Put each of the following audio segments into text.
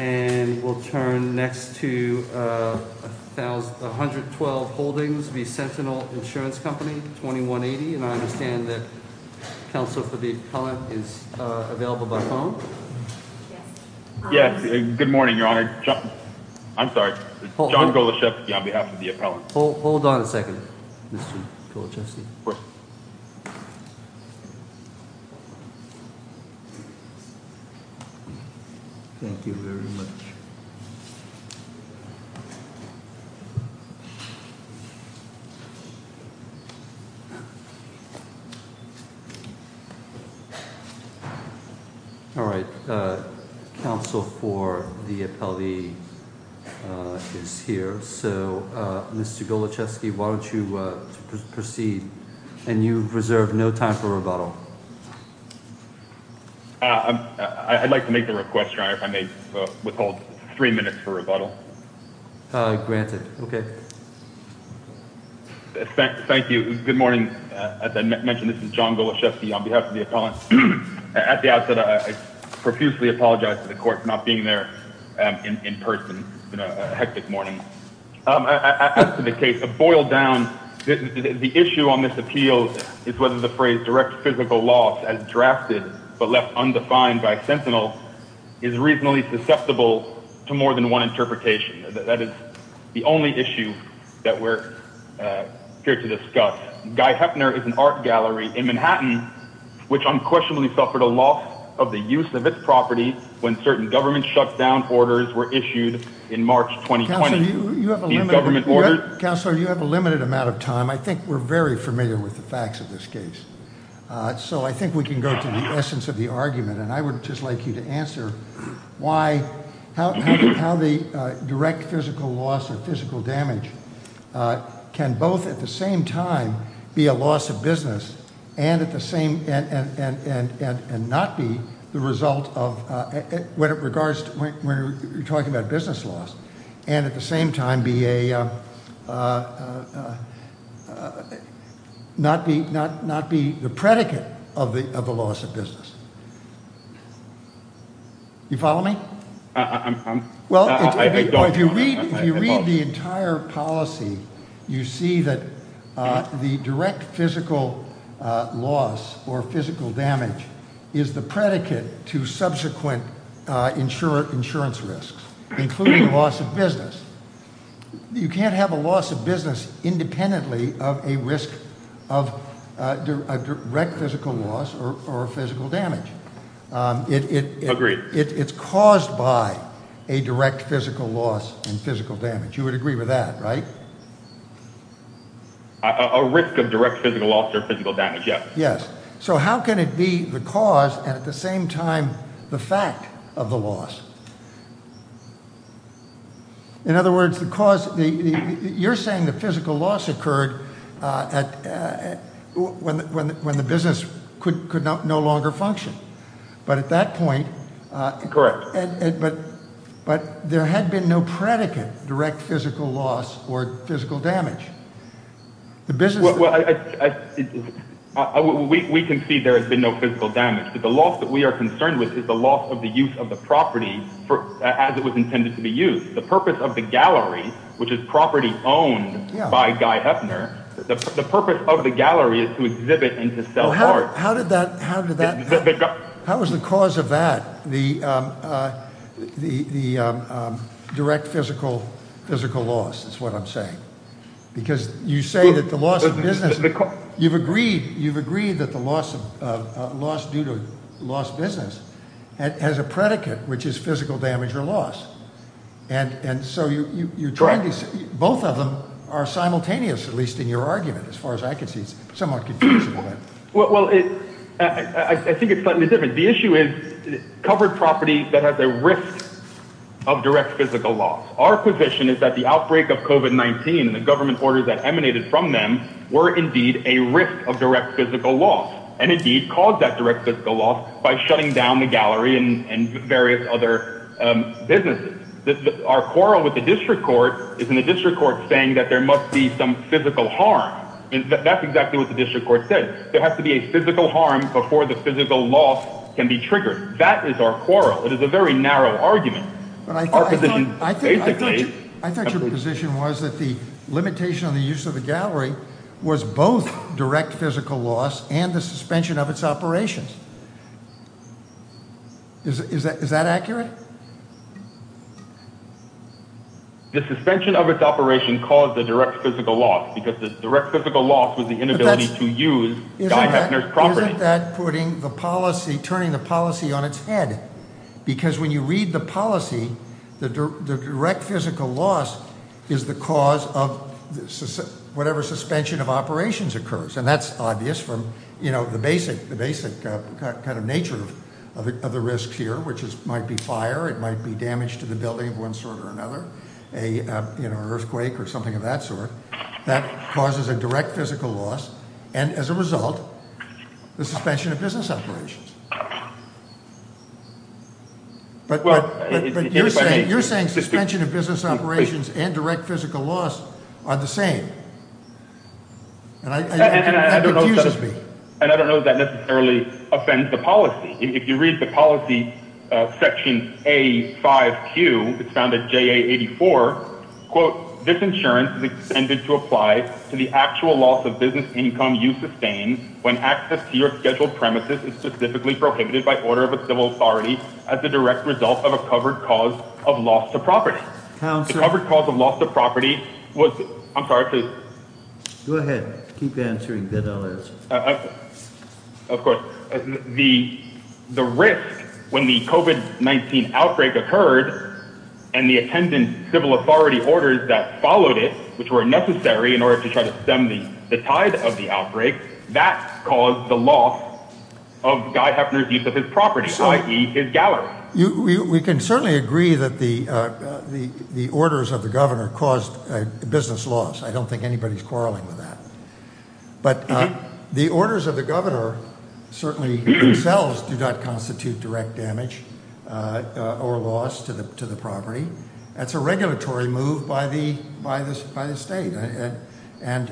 and we'll turn next to 112 Holdings v. Sentinel Insurance Company, 2180, and I understand that counsel for the appellant is available by phone? Yes, good morning, Your Honor. I'm sorry, John Goloshevsky on behalf of the appellant. Hold on a second, Mr. Goloshevsky. What? Thank you very much. All right. Counsel for the appellee is here. So, Mr. Goloshevsky, why don't you proceed? And you reserve no time for rebuttal. I'd like to make a request, Your Honor, if I may withhold three minutes for rebuttal. Granted. Okay. Thank you. Good morning. As I mentioned, this is John Goloshevsky on behalf of the appellant. At the outset, I profusely apologize to the court for not being there in person on a hectic morning. As to the case of Boiled Down, the issue on this appeal is whether the phrase direct physical loss as drafted but left undefined by Sentinel is reasonably susceptible to more than one interpretation. That is the only issue that we're here to discuss. Guy Hefner is an art gallery in Manhattan, which unquestionably suffered a loss of the use of its property when certain government shutdown orders were issued in March 2020. Counselor, you have a limited amount of time. I think we're very familiar with the facts of this case. So I think we can go to the essence of the argument, and I would just like you to answer why, how the direct physical loss or physical damage can both at the same time be a loss of business and not be the result of, when you're talking about business loss, and at the same time not be the predicate of the loss of business. You follow me? I don't. If you read the entire policy, you see that the direct physical loss or physical damage is the predicate to subsequent insurance risks, including the loss of business. You can't have a loss of business independently of a risk of direct physical loss or physical damage. Agreed. It's caused by a direct physical loss and physical damage. You would agree with that, right? A risk of direct physical loss or physical damage, yes. Yes. So how can it be the cause and at the same time the fact of the loss? In other words, you're saying the physical loss occurred when the business could no longer function. But at that point, there had been no predicate, direct physical loss or physical damage. We can see there has been no physical damage, but the loss that we are concerned with is the loss of the use of the property as it was intended to be used. The purpose of the gallery, which is property owned by Guy Hefner, the purpose of the gallery is to exhibit and to sell art. How is the cause of that the direct physical loss is what I'm saying? Because you say that the loss of business, you've agreed that the loss due to lost business has a predicate, which is physical damage or loss. And so you're trying to say both of them are simultaneous, at least in your argument, as far as I can see. Well, I think it's slightly different. The issue is covered property that has a risk of direct physical loss. Our position is that the outbreak of covid-19 and the government orders that emanated from them were indeed a risk of direct physical loss and indeed caused that direct physical loss by shutting down the gallery and various other businesses. Our quarrel with the district court is in the district court saying that there must be some physical harm. That's exactly what the district court said. There has to be a physical harm before the physical loss can be triggered. That is our quarrel. It is a very narrow argument. But I thought I thought I thought I thought your position was that the limitation on the use of the gallery was both direct physical loss and the suspension of its operations. Is that is that accurate? The suspension of its operation caused the direct physical loss because the direct physical loss was the inability to use property that putting the policy, turning the policy on its head. Because when you read the policy, the direct physical loss is the cause of whatever suspension of operations occurs. And that's obvious from, you know, the basic the basic kind of nature of the risks here, which might be fire. It might be damaged to the building of one sort or another, a earthquake or something of that sort that causes a direct physical loss. And as a result, the suspension of business operations. But you're saying you're saying suspension of business operations and direct physical loss are the same. And I don't know. And I don't know that necessarily offends the policy. If you read the policy section, a five Q founded J.A. Eighty four. Quote, this insurance is intended to apply to the actual loss of business income. You sustain when access to your scheduled premises is specifically prohibited by order of a civil authority as a direct result of a covered cause of loss to property. I'm sorry to go ahead. Keep answering. Of course, the the risk when the covid-19 outbreak occurred and the attendant civil authority orders that followed it, which were necessary in order to try to stem the tide of the outbreak that caused the loss of Guy Hefner's use of his property. You we can certainly agree that the the the orders of the governor caused a business loss. I don't think anybody's quarreling with that. But the orders of the governor certainly themselves do not constitute direct damage or loss to the to the property. That's a regulatory move by the by this by the state. And,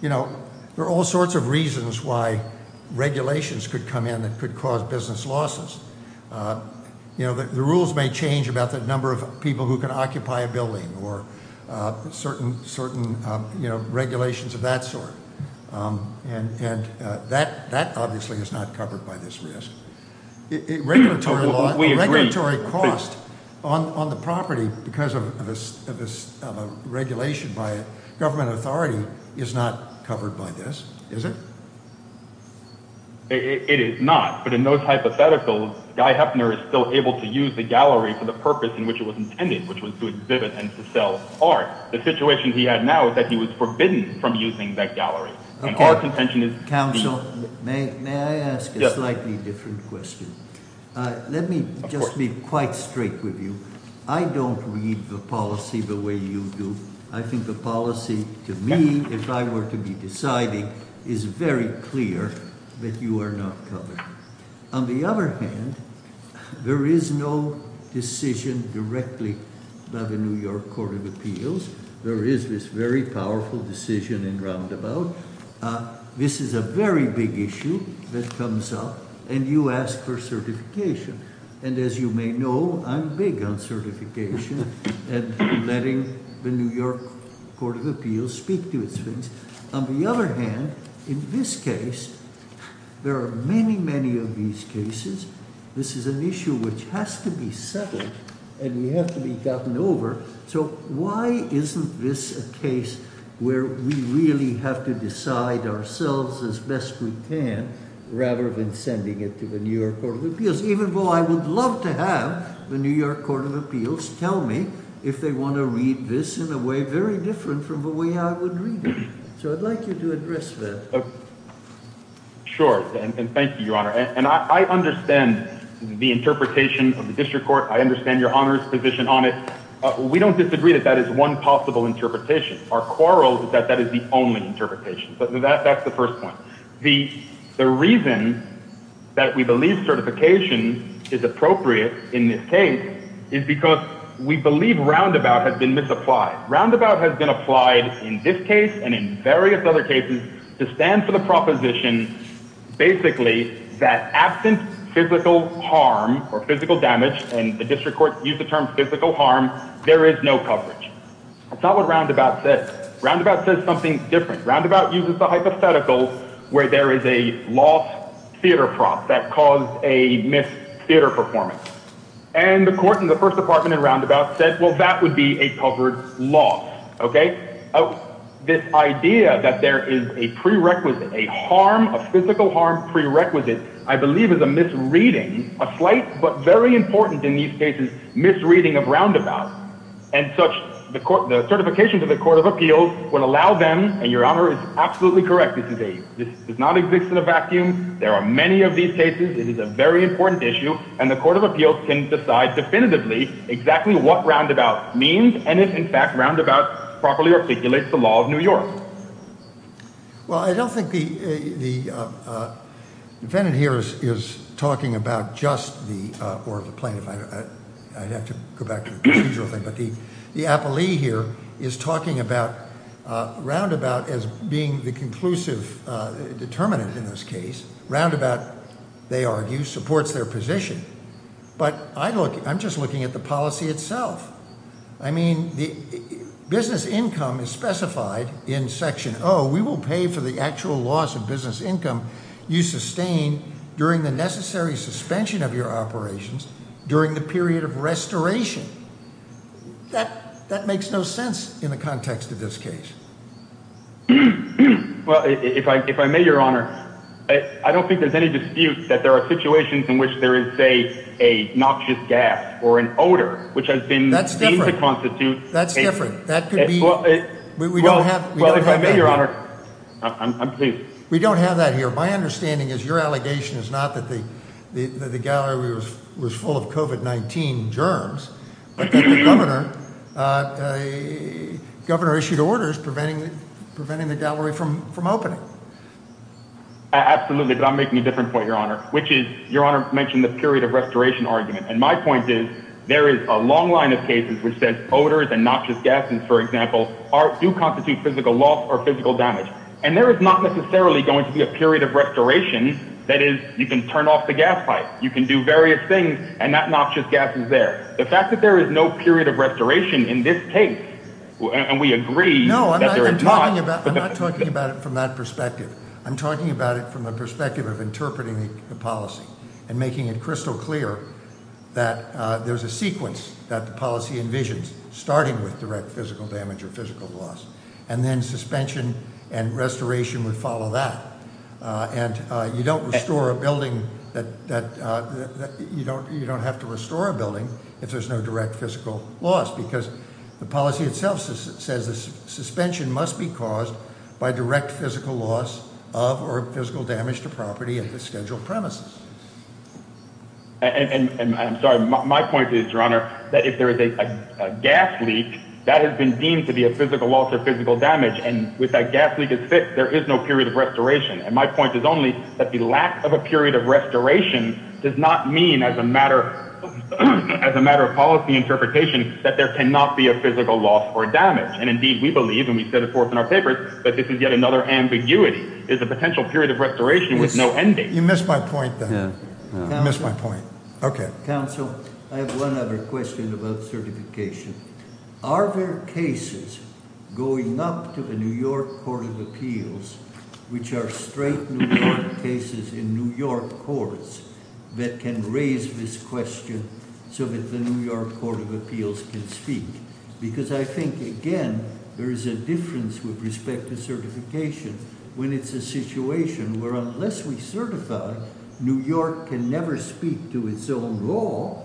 you know, there are all sorts of reasons why regulations could come in that could cause business losses. You know, the rules may change about the number of people who can occupy a building or certain certain regulations of that sort. And that that obviously is not covered by this risk. Regulatory cost on the property because of this regulation by a government authority is not covered by this. Is it? It is not. But in those hypotheticals, Guy Hefner is still able to use the gallery for the purpose in which it was intended, which was to exhibit and sell art. The situation he had now is that he was forbidden from using that gallery. Counsel, may I ask a slightly different question? Let me just be quite straight with you. I don't read the policy the way you do. I think the policy to me, if I were to be deciding, is very clear that you are not covered. On the other hand, there is no decision directly by the New York Court of Appeals. There is this very powerful decision in Roundabout. This is a very big issue that comes up and you ask for certification. And as you may know, I'm big on certification and letting the New York Court of Appeals speak to its things. On the other hand, in this case, there are many, many of these cases. This is an issue which has to be settled and we have to be gotten over. So why isn't this a case where we really have to decide ourselves as best we can rather than sending it to the New York Court of Appeals? Even though I would love to have the New York Court of Appeals tell me if they want to read this in a way very different from the way I would read it. So I'd like you to address that. Sure, and thank you, Your Honor. And I understand the interpretation of the district court. I understand Your Honor's position on it. We don't disagree that that is one possible interpretation. Our quarrel is that that is the only interpretation. That's the first point. The reason that we believe certification is appropriate in this case is because we believe Roundabout has been misapplied. Roundabout has been applied in this case and in various other cases to stand for the proposition basically that absent physical harm or physical damage, and the district court used the term physical harm, there is no coverage. That's not what Roundabout says. Roundabout says something different. Roundabout uses the hypothetical where there is a lost theater prop that caused a missed theater performance. And the court in the first department in Roundabout said, well, that would be a covered loss. Okay. This idea that there is a prerequisite, a harm, a physical harm prerequisite, I believe is a misreading, a slight but very important in these cases, misreading of Roundabout. And such the certification to the Court of Appeals would allow them, and Your Honor is absolutely correct, this does not exist in a vacuum. There are many of these cases. It is a very important issue, and the Court of Appeals can decide definitively exactly what Roundabout means, and if in fact Roundabout properly articulates the law of New York. Well, I don't think the defendant here is talking about just the, or the plaintiff, I'd have to go back to the procedural thing. But the appellee here is talking about Roundabout as being the conclusive determinant in this case. Roundabout, they argue, supports their position. But I'm just looking at the policy itself. I mean, the business income is specified in Section O. We will pay for the actual loss of business income you sustain during the necessary suspension of your operations during the period of restoration. That makes no sense in the context of this case. Well, if I may, Your Honor, I don't think there's any dispute that there are situations in which there is, say, a noxious gas or an odor, which has been seen to constitute… That's different. That's different. That could be… Well, if I may, Your Honor, I'm pleased. We don't have that here. My understanding is your allegation is not that the gallery was full of COVID-19 germs, but that the governor issued orders preventing the gallery from opening. Absolutely, but I'm making a different point, Your Honor, which is Your Honor mentioned the period of restoration argument. And my point is there is a long line of cases which says odors and noxious gases, for example, do constitute physical loss or physical damage. And there is not necessarily going to be a period of restoration. That is, you can turn off the gas pipe. You can do various things, and that noxious gas is there. The fact that there is no period of restoration in this case, and we agree… No, I'm not talking about it from that perspective. I'm talking about it from the perspective of interpreting the policy and making it crystal clear that there's a sequence that the policy envisions, starting with direct physical damage or physical loss. And then suspension and restoration would follow that. And you don't have to restore a building if there's no direct physical loss. Because the policy itself says the suspension must be caused by direct physical loss of or physical damage to property at the scheduled premises. And I'm sorry. My point is, Your Honor, that if there is a gas leak, that has been deemed to be a physical loss or physical damage. And with that gas leak as fixed, there is no period of restoration. And my point is only that the lack of a period of restoration does not mean as a matter of policy interpretation that there cannot be a physical loss or damage. And indeed, we believe, and we set it forth in our papers, that this is yet another ambiguity. It's a potential period of restoration with no ending. You missed my point, then. You missed my point. Okay. Counsel, I have one other question about certification. Are there cases going up to the New York Court of Appeals, which are straight New York cases in New York courts, that can raise this question so that the New York Court of Appeals can speak? Because I think, again, there is a difference with respect to certification when it's a situation where unless we certify, New York can never speak to its own law.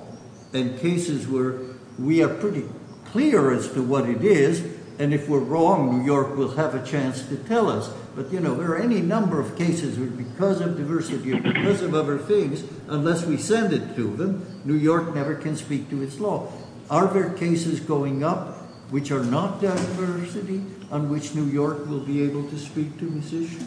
And cases where we are pretty clear as to what it is, and if we're wrong, New York will have a chance to tell us. But, you know, there are any number of cases where because of diversity or because of other things, unless we send it to them, New York never can speak to its law. Are there cases going up which are not diversity on which New York will be able to speak to this issue?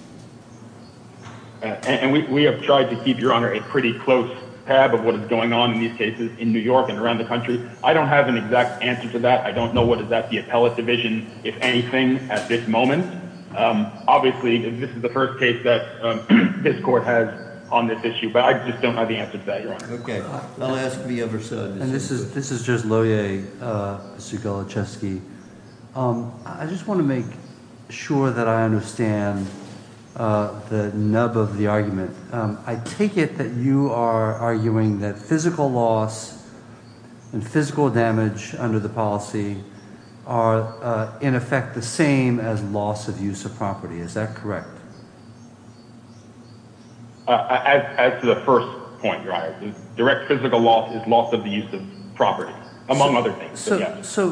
And we have tried to keep, Your Honor, a pretty close tab of what is going on in these cases in New York and around the country. I don't have an exact answer to that. I don't know what is at the appellate division, if anything, at this moment. Obviously, this is the first case that this court has on this issue. But I just don't have the answer to that, Your Honor. Okay. The last to be ever said. And this is just Loehr, Mr. Galachewski. I just want to make sure that I understand the nub of the argument. I take it that you are arguing that physical loss and physical damage under the policy are, in effect, the same as loss of use of property. Is that correct? As to the first point, Your Honor, direct physical loss is loss of the use of property, among other things. So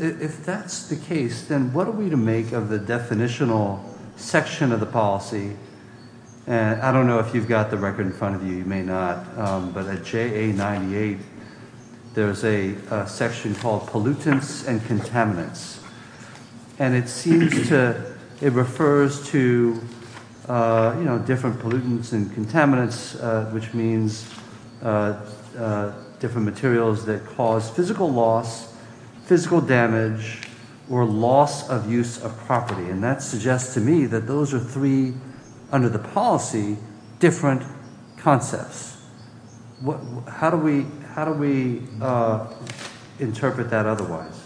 if that's the case, then what are we to make of the definitional section of the policy? And I don't know if you've got the record in front of you. You may not. But at JA98, there's a section called pollutants and contaminants. And it seems to it refers to, you know, different pollutants and contaminants, which means different materials that cause physical loss, physical damage or loss of use of property. And that suggests to me that those are three under the policy, different concepts. How do we how do we interpret that otherwise?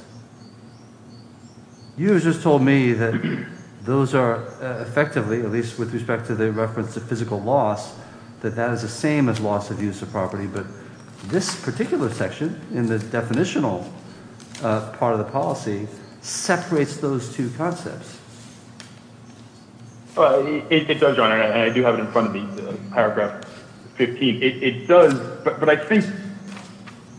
You just told me that those are effectively, at least with respect to the reference to physical loss, that that is the same as loss of use of property. But this particular section in the definitional part of the policy separates those two concepts. It does, Your Honor, and I do have it in front of me, paragraph 15. It does. But I think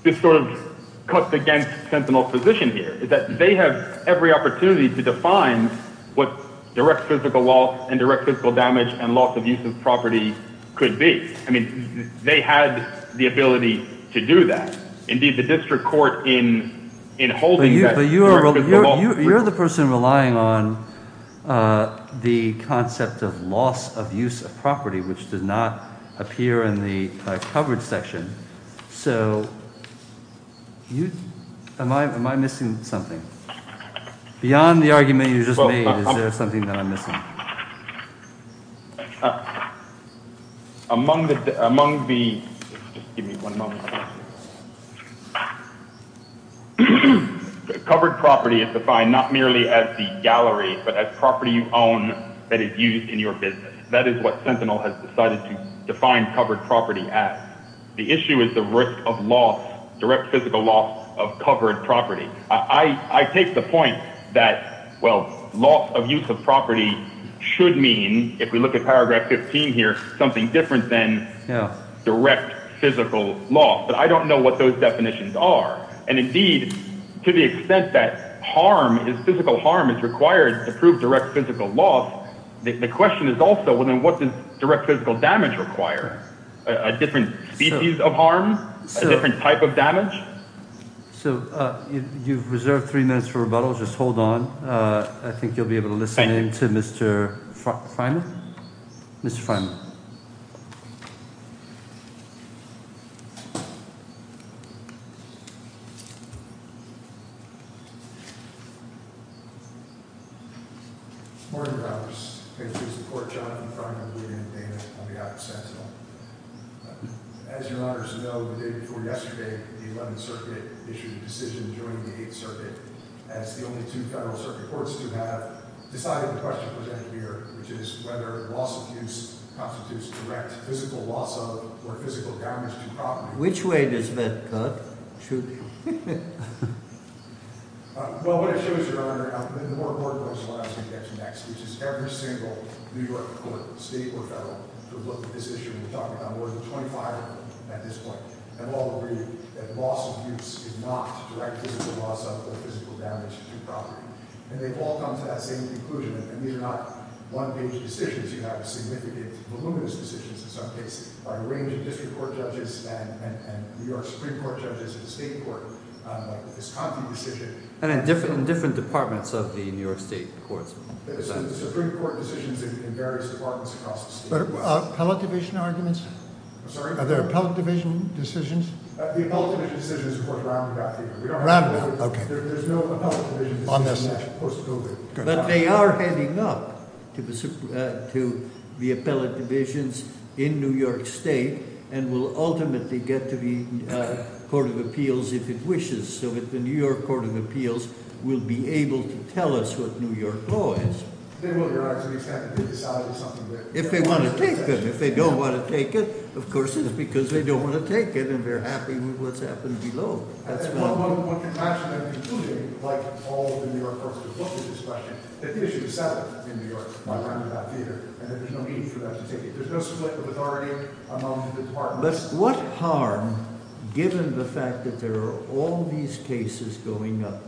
this sort of cuts against Sentinel's position here is that they have every opportunity to define what direct physical loss and direct physical damage and loss of use of property could be. I mean, they had the ability to do that. Indeed, the district court in in holding that you are the person relying on the concept of loss of use of property, which does not appear in the coverage section. So you am I am I missing something beyond the argument you just made? Among the among the give me one moment. Covered property is defined not merely as the gallery, but as property you own that is used in your business. That is what Sentinel has decided to define covered property at. The issue is the risk of loss, direct physical loss of covered property. I take the point that, well, loss of use of property should mean, if we look at paragraph 15 here, something different than direct physical loss. But I don't know what those definitions are. And indeed, to the extent that harm is physical harm is required to prove direct physical loss. The question is also, well, then what does direct physical damage require a different species of harm, a different type of damage? So you've reserved three minutes for rebuttal. Just hold on. I think you'll be able to listen in to Mr. Mr. Which way does that cut? Well, what it shows, Your Honor, and the more important point is what I'm going to get to next, which is every single New York court, state or federal, to look at this issue. We're talking about more than 25 of them at this point, and all agree that loss of use is not direct physical loss of physical damage to property. And they've all come to that same conclusion. And these are not one-page decisions. You have significant, voluminous decisions in some cases by a range of district court judges and New York Supreme Court judges and state court. It's a concrete decision. And in different departments of the New York state courts. The Supreme Court decisions in various departments across the state. But appellate division arguments? I'm sorry? Are there appellate division decisions? The appellate division decisions, of course, are roundabout. Roundabout, okay. There's no appellate division decisions post-COVID. But they are heading up to the appellate divisions in New York state and will ultimately get to the Court of Appeals if it wishes. So that the New York Court of Appeals will be able to tell us what New York law is. If they want to take them. If they don't want to take it, of course, it's because they don't want to take it and they're happy with what's happened below. Like all the New York courts, what's the discussion? That the issue is settled in New York by roundabout theater and that there's no need for them to take it. There's no sort of authority among the departments. What harm, given the fact that there are all these cases going up,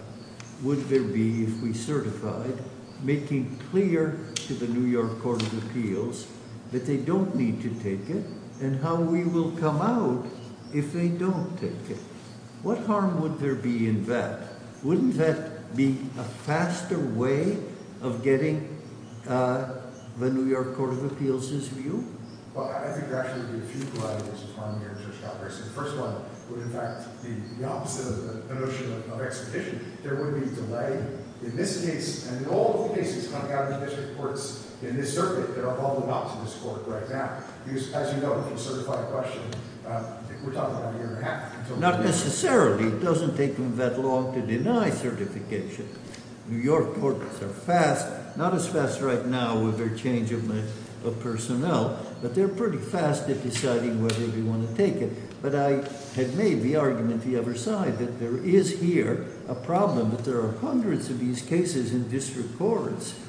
would there be if we certified, making clear to the New York Court of Appeals that they don't need to take it? And how we will come out if they don't take it? What harm would there be in that? Wouldn't that be a faster way of getting the New York Court of Appeals' view? Well, I think there would actually be a few varieties of harm here in the Church Congress. The first one would, in fact, be the opposite of the notion of expedition. There would be delay in this case and all of the cases coming out of the district courts in this circuit that are called them out to this court right now. Because, as you know from the certified question, we're talking about a year and a half. Not necessarily. It doesn't take them that long to deny certification. New York courts are fast. Not as fast right now with their change of personnel, but they're pretty fast at deciding whether they want to take it. But I had made the argument the other side that there is here a problem that there are hundreds of these cases in district courts.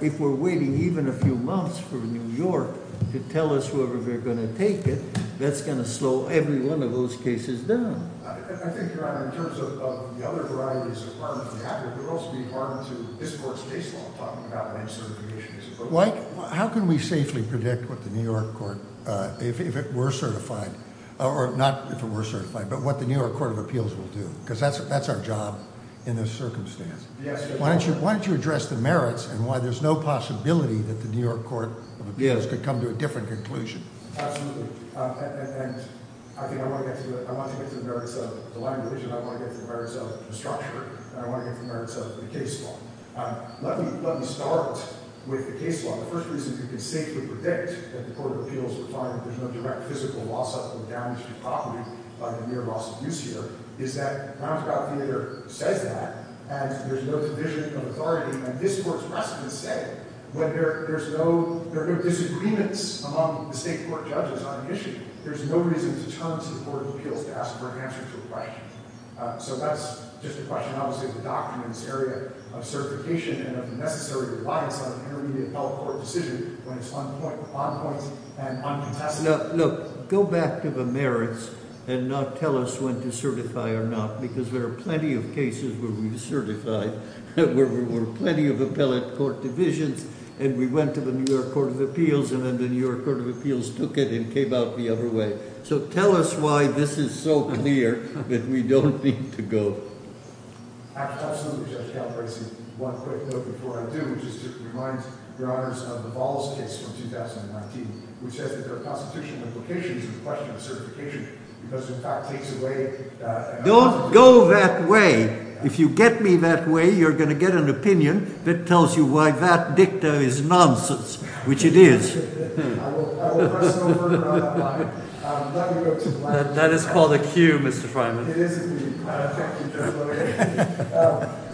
If we're waiting even a few months for New York to tell us whether they're going to take it, that's going to slow every one of those cases down. I think, Your Honor, in terms of the other varieties of harm that would happen, there would also be harm to this court's case law talking about when certification is appropriate. How can we safely predict what the New York Court, if it were certified, or not if it were certified, but what the New York Court of Appeals will do? Because that's our job in this circumstance. Why don't you address the merits and why there's no possibility that the New York Court of Appeals could come to a different conclusion? Absolutely. And I think I want to get to the merits of the line of division. I want to get to the merits of the structure. And I want to get to the merits of the case law. Let me start with the case law. The first reason we can safely predict that the Court of Appeals would find that there's no direct physical loss of or damage to property by the near loss of use here is that Brownsville Court of Appeals says that. And there's no division of authority. And this Court's precedents say that there are no disagreements among the state court judges on the issue. There's no reason to turn to the Court of Appeals to ask for an answer to the right. So that's just a question, obviously, of the documents area of certification and of the necessary reliance on an intermediate appellate court decision when it's on point. On point and uncontested. Look, go back to the merits and not tell us when to certify or not, because there are plenty of cases where we've certified, where there were plenty of appellate court divisions, and we went to the New York Court of Appeals, and then the New York Court of Appeals took it and came out the other way. So tell us why this is so clear that we don't need to go. Absolutely, Judge Calabresi. One quick note before I do, which is to remind Your Honors of the Balls case from 2019, which says that there are constitutional implications in the question of certification because, in fact, takes away— Don't go that way. If you get me that way, you're going to get an opinion that tells you why that dicta is nonsense, which it is. That is called a cue, Mr. Freiman. It is.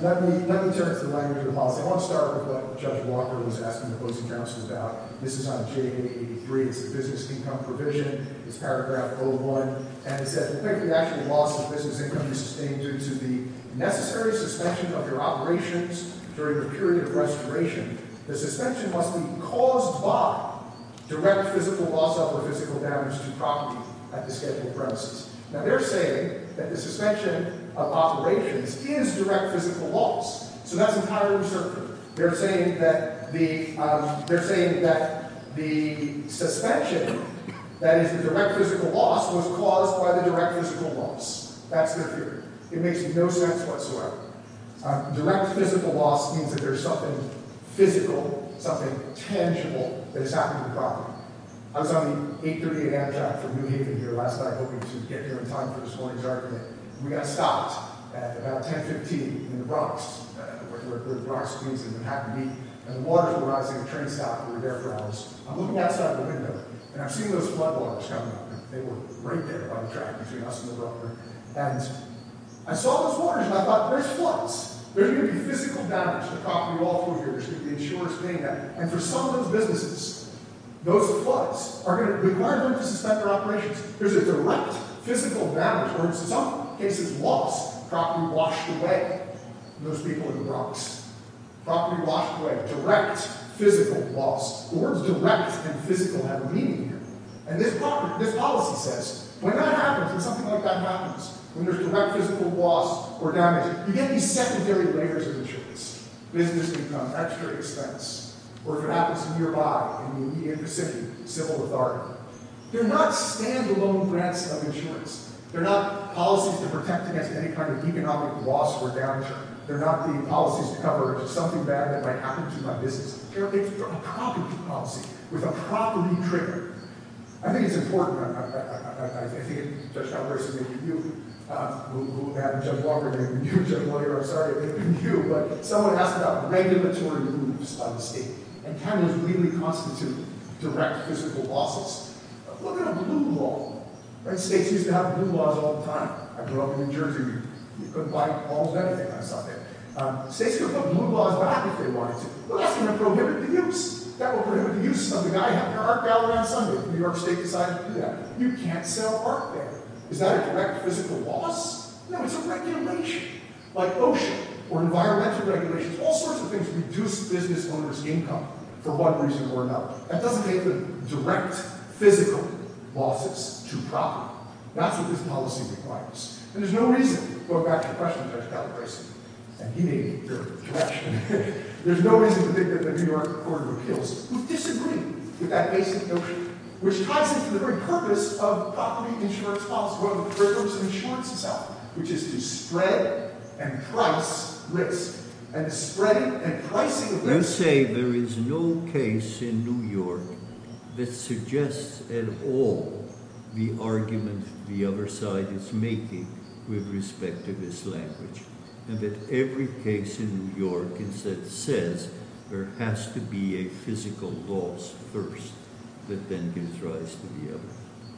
Let me turn to the language of the policy. I want to start with what Judge Walker was asking the opposing counsel about. This is on JA83. It's the business income provision. It's paragraph 01. And it says, in effect, the actual loss of business income is sustained due to the necessary suspension of your operations during the period of restoration. The suspension must be caused by direct physical loss of or physical damage to property at the scheduled premises. Now, they're saying that the suspension of operations is direct physical loss. So that's entirely uncertain. They're saying that the suspension, that is, the direct physical loss, was caused by the direct physical loss. That's the theory. It makes no sense whatsoever. Direct physical loss means that there's something physical, something tangible, that has happened to the property. I was on the 838 Amtrak from New Haven here last night, hoping to get here on time for this morning's argument. We got stopped at about 1015 in the Bronx, where the Bronx means that you have to be, at a water-rising train stop. We were there for hours. I'm looking outside the window, and I'm seeing those floodwaters coming up. They were right there on the track between us and the broker. And I saw those waters, and I thought, there's floods. There's going to be physical damage to the property, all four years, with the insurers paying that. And for some of those businesses, those floods are going to require them to suspend their operations. There's a direct physical damage. In some cases, loss. Property washed away. Those people in the Bronx. Property washed away. Direct physical loss. The words direct and physical have meaning here. And this policy says, when that happens, when something like that happens, when there's direct physical loss or damage, you get these secondary layers of insurance. Business income, extra expense. Or if it happens nearby, in the immediate vicinity, civil authority. They're not stand-alone grants of insurance. They're not policies to protect against any kind of economic loss or damage. They're not the policies to cover something bad that might happen to my business. They're a property policy with a property trigger. I think it's important. I think Judge Calabresi may be new. Judge Walker may be new. Judge Moyer, I'm sorry, may be new. But someone asked about regulatory moves by the state. And can those really constitute direct physical losses? Look at a blue law. States used to have blue laws all the time. I grew up in New Jersey. You could buy almost everything on a Sunday. States could put blue laws back if they wanted to. Well, that's going to prohibit the use. That will prohibit the use of the guy having an art gallery on Sunday. New York State decided to do that. You can't sell art there. Is that a direct physical loss? No, it's a regulation. Like OSHA or environmental regulations, all sorts of things reduce business owners' income for one reason or another. That doesn't make them direct physical losses to property. That's what this policy requires. And there's no reason, going back to the question of Judge Calabresi, and he made a terrible correction, there's no reason to think that the New York court will kill us. We disagree with that basic notion, which ties into the very purpose of property insurance policy, one of the principles of insurance itself, which is to spread and price risk. And to spread and pricing risk. You say there is no case in New York that suggests at all the argument the other side is making with respect to this language. And that every case in New York that says there has to be a physical loss first that then gives rise to the other.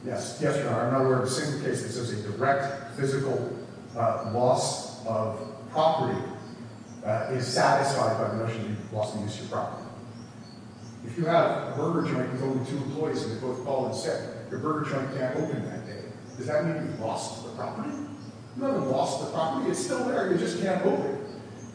Yes. Yes, Your Honor. I'm not aware of a single case that says a direct physical loss of property is satisfied by the notion that you've lost the use of your property. If you have a burger joint with only two employees and they both call in sick, your burger joint can't open that day, does that mean you've lost the property? You haven't lost the property, it's still there, you just can't open it.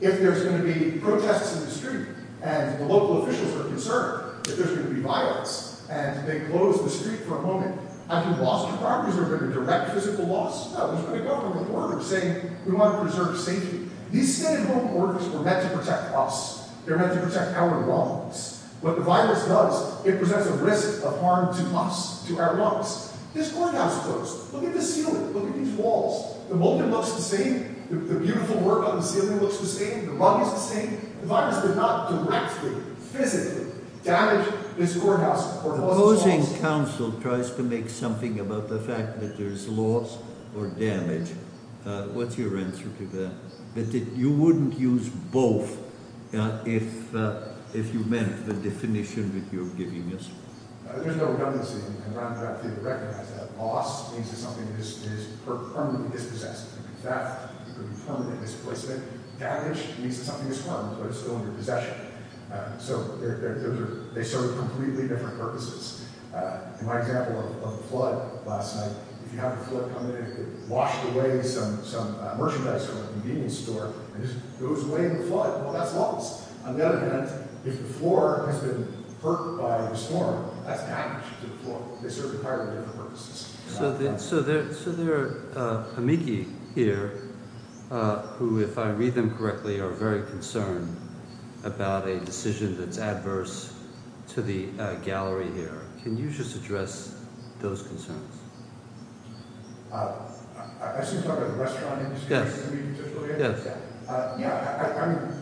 If there's going to be protests in the street, and the local officials are concerned that there's going to be violence, and they close the street for a moment, have you lost your property? Is there going to be a direct physical loss? No, there's going to be a government order saying we want to preserve safety. These state and local orders were meant to protect us. They're meant to protect our lungs. What the virus does, it presents a risk of harm to us, to our lungs. This courthouse closed. Look at the ceiling, look at these walls. The molding looks the same, the beautiful work on the ceiling looks the same, the rug is the same. The virus did not directly, physically damage this courthouse. The opposing council tries to make something about the fact that there's loss or damage. What's your answer to that? That you wouldn't use both if you meant the definition that you're giving us. There's no redundancy, and I'm happy to recognize that. Loss means that something is permanently dispossessed. That could be permanent displacement. Damage means that something is harmed, but it's still in your possession. So they serve completely different purposes. In my example of a flood last night, if you have a flood coming in, if it washed away some merchandise from a convenience store, and it just goes away in the flood, well, that's loss. On the other hand, if the floor has been hurt by the storm, that's damage to the floor. They serve entirely different purposes. So there are amici here who, if I read them correctly, are very concerned about a decision that's adverse to the gallery here. Can you just address those concerns? I assume you're talking about the restaurant industry? Yes. I mean,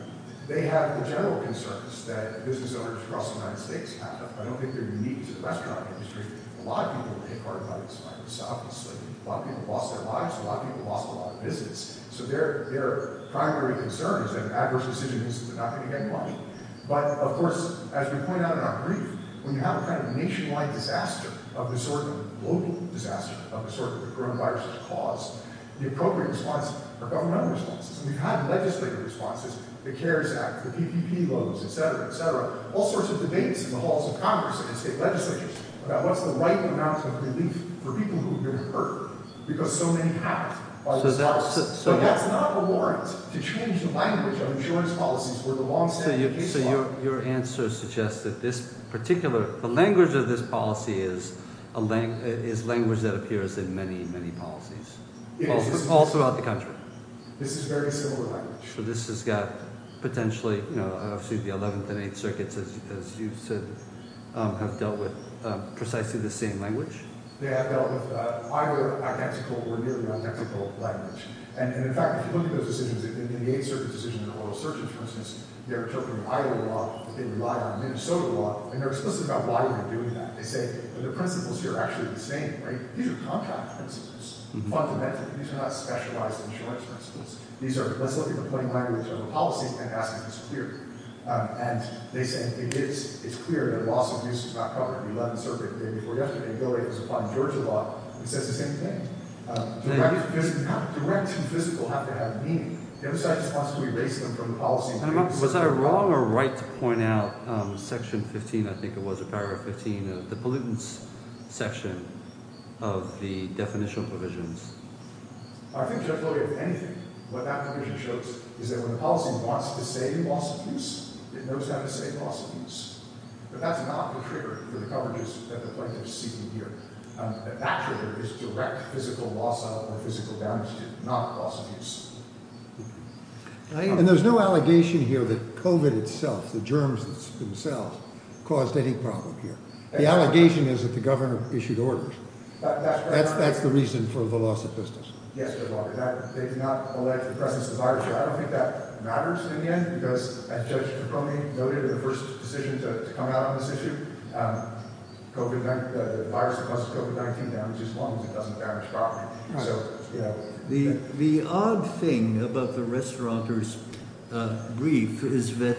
they have the general concerns that business owners across the United States have. I don't think they're unique to the restaurant industry. A lot of people have been hit hard by this virus, obviously. A lot of people lost their lives. A lot of people lost a lot of business. So their primary concern is that an adverse decision is not going to get you money. But, of course, as we point out in our brief, when you have a kind of nationwide disaster of the sort of global disaster of the sort that the coronavirus has caused, the appropriate response are governmental responses. We've had legislative responses, the CARES Act, the PPP loans, et cetera, et cetera, all sorts of debates in the halls of Congress and state legislatures about what's the right amount of relief for people who've been hurt because so many have. But that's not a warrant to change the language of insurance policies where the longstanding case law— So your answer suggests that this particular—the language of this policy is language that appears in many, many policies all throughout the country. This is very similar language. So this has got potentially the 11th and 8th Circuits, as you said, have dealt with precisely the same language? They have dealt with either identical or nearly identical language. And, in fact, if you look at those decisions, in the 8th Circuit decision in the Oral Search, for instance, they're interpreting Iowa law, but they rely on Minnesota law. And they're explicit about why they're doing that. They say the principles here are actually the same, right? These are contract principles, fundamentally. These are not specialized insurance principles. Let's look at the plain language of the policy and ask if it's clear. And they say it is—it's clear that loss of use is not covered in the 11th Circuit. The day before yesterday, Bill Gates was applying Georgia law. He says the same thing. Direct and physical have to have meaning. The other side just wants to erase them from the policy. Was I wrong or right to point out section 15—I think it was paragraph 15— of the pollutants section of the definition provisions? I think just really with anything, what that provision shows is that when the policy wants to say loss of use, it knows how to say loss of use. But that's not the trigger for the coverages that the plaintiff is seeking here. That trigger is direct physical loss of or physical damage to, not loss of use. And there's no allegation here that COVID itself, the germs themselves, caused any problem here. The allegation is that the governor issued orders. That's the reason for the loss of business. Yes, Your Honor. They did not allege the presence of viruses. I don't think that matters in the end, because as Judge Capone noted in the first decision to come out on this issue, the virus causes COVID-19 damage as long as it doesn't damage property. The odd thing about the restauranteur's brief is that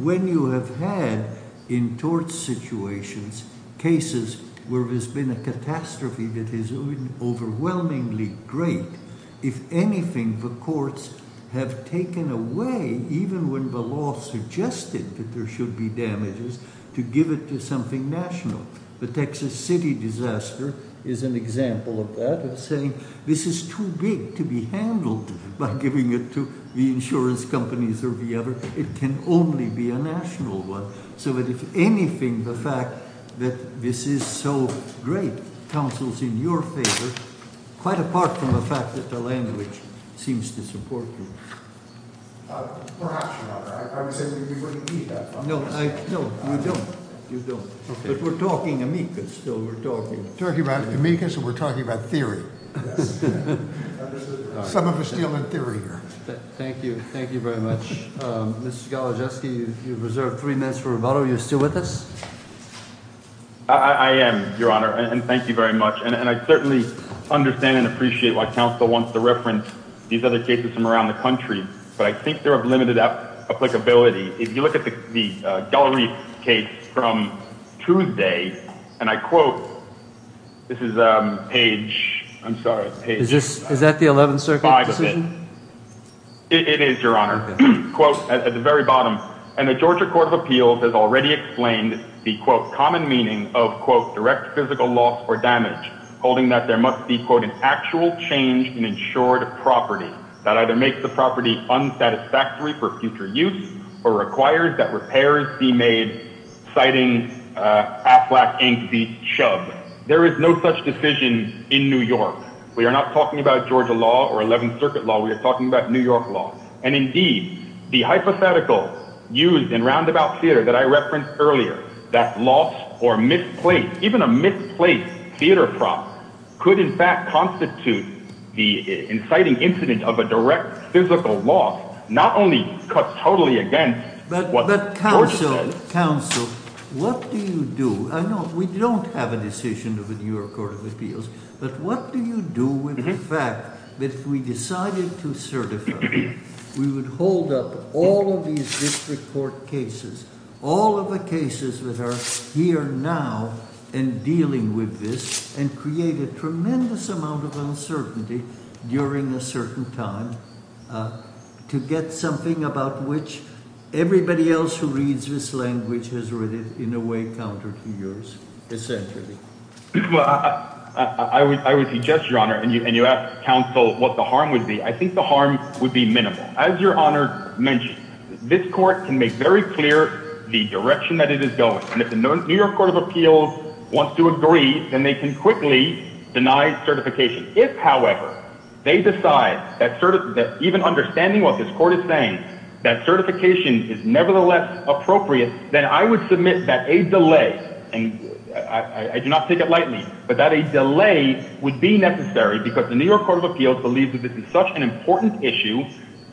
when you have had in tort situations cases where there's been a catastrophe that is overwhelmingly great, if anything, the courts have taken away, even when the law suggested that there should be damages, to give it to something national. The Texas City disaster is an example of that, of saying this is too big to be handled by giving it to the insurance companies or the other. It can only be a national one. If anything, the fact that this is so great, counsels in your favor, quite apart from the fact that the language seems to support you. Perhaps, Your Honor. I would say we wouldn't need that. No, you don't. But we're talking amicus still. We're talking about amicus and we're talking about theory. Some of us deal in theory here. Thank you. Thank you very much. Mr. Galojewski, you've reserved three minutes for rebuttal. Are you still with us? I am, Your Honor, and thank you very much. And I certainly understand and appreciate why counsel wants to reference these other cases from around the country, but I think they're of limited applicability. If you look at the Gallerie case from Tuesday, and I quote, this is page, I'm sorry, page 5 of it. Is that the 11th Circuit decision? It is, Your Honor. Quote, at the very bottom, and the Georgia Court of Appeals has already explained the, quote, common meaning of, quote, direct physical loss or damage, holding that there must be, quote, an actual change in insured property that either makes the property unsatisfactory for future use or requires that repairs be made, citing Aflac Inc. v. Chubb. There is no such decision in New York. We are not talking about Georgia law or 11th Circuit law. We are talking about New York law. And indeed, the hypothetical used in Roundabout Theater that I referenced earlier, that loss or misplace, even a misplaced theater prop, could in fact constitute the inciting incident of a direct physical loss, not only cut totally against what Georgia says. But counsel, counsel, what do you do? I know we don't have a decision of the New York Court of Appeals, but what do you do with the fact that if we decided to certify, we would hold up all of these district court cases, all of the cases that are here now and dealing with this and create a tremendous amount of uncertainty during a certain time to get something about which everybody else who reads this language has read it in a way counter to yours, essentially. Well, I would suggest, Your Honor, and you ask counsel what the harm would be. I think the harm would be minimal. As Your Honor mentioned, this court can make very clear the direction that it is going. And if the New York Court of Appeals wants to agree, then they can quickly deny certification. If, however, they decide that even understanding what this court is saying, that certification is nevertheless appropriate, then I would submit that a delay, and I do not take it lightly, but that a delay would be necessary because the New York Court of Appeals believes that this is such an important issue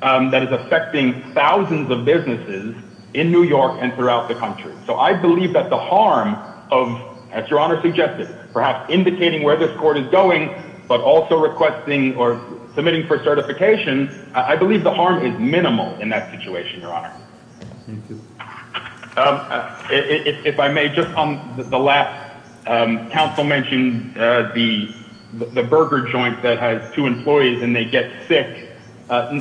that is affecting thousands of businesses in New York and throughout the country. So I believe that the harm of, as Your Honor suggested, perhaps indicating where this court is going but also requesting or submitting for certification, I believe the harm is minimal in that situation, Your Honor. Thank you. If I may, just on the last, counsel mentioned the burger joint that has two employees and they get sick.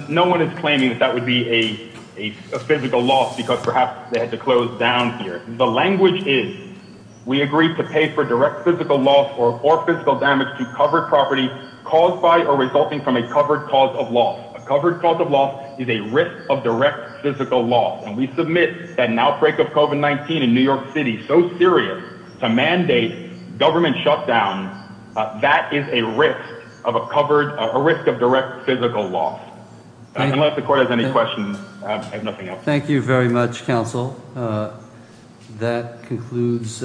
No one is claiming that that would be a physical loss because perhaps they had to close down here. The language is, we agree to pay for direct physical loss or physical damage to covered property caused by or resulting from a covered cause of loss. A covered cause of loss is a risk of direct physical loss, and we submit that an outbreak of COVID-19 in New York City, so serious to mandate government shutdown, that is a risk of a covered, a risk of direct physical loss. Unless the court has any questions, I have nothing else. Thank you very much, counsel. That concludes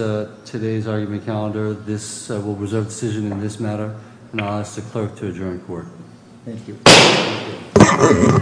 today's argument calendar. This will reserve decision in this matter, and I'll ask the clerk to adjourn court. Thank you. Thank you.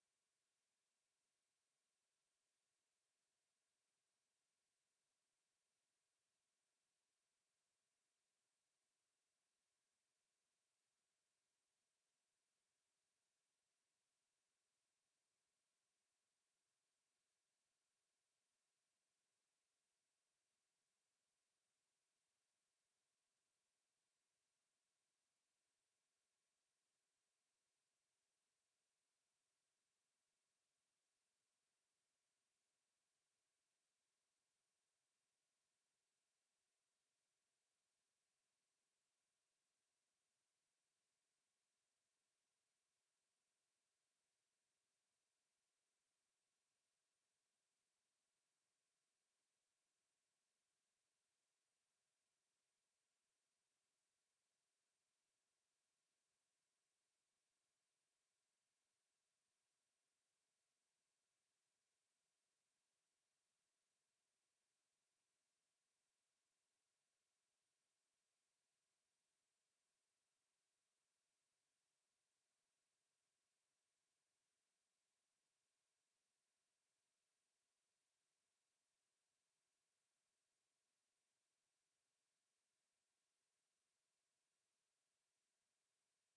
Thank you. Thank you. Thank you. Thank you. Thank you.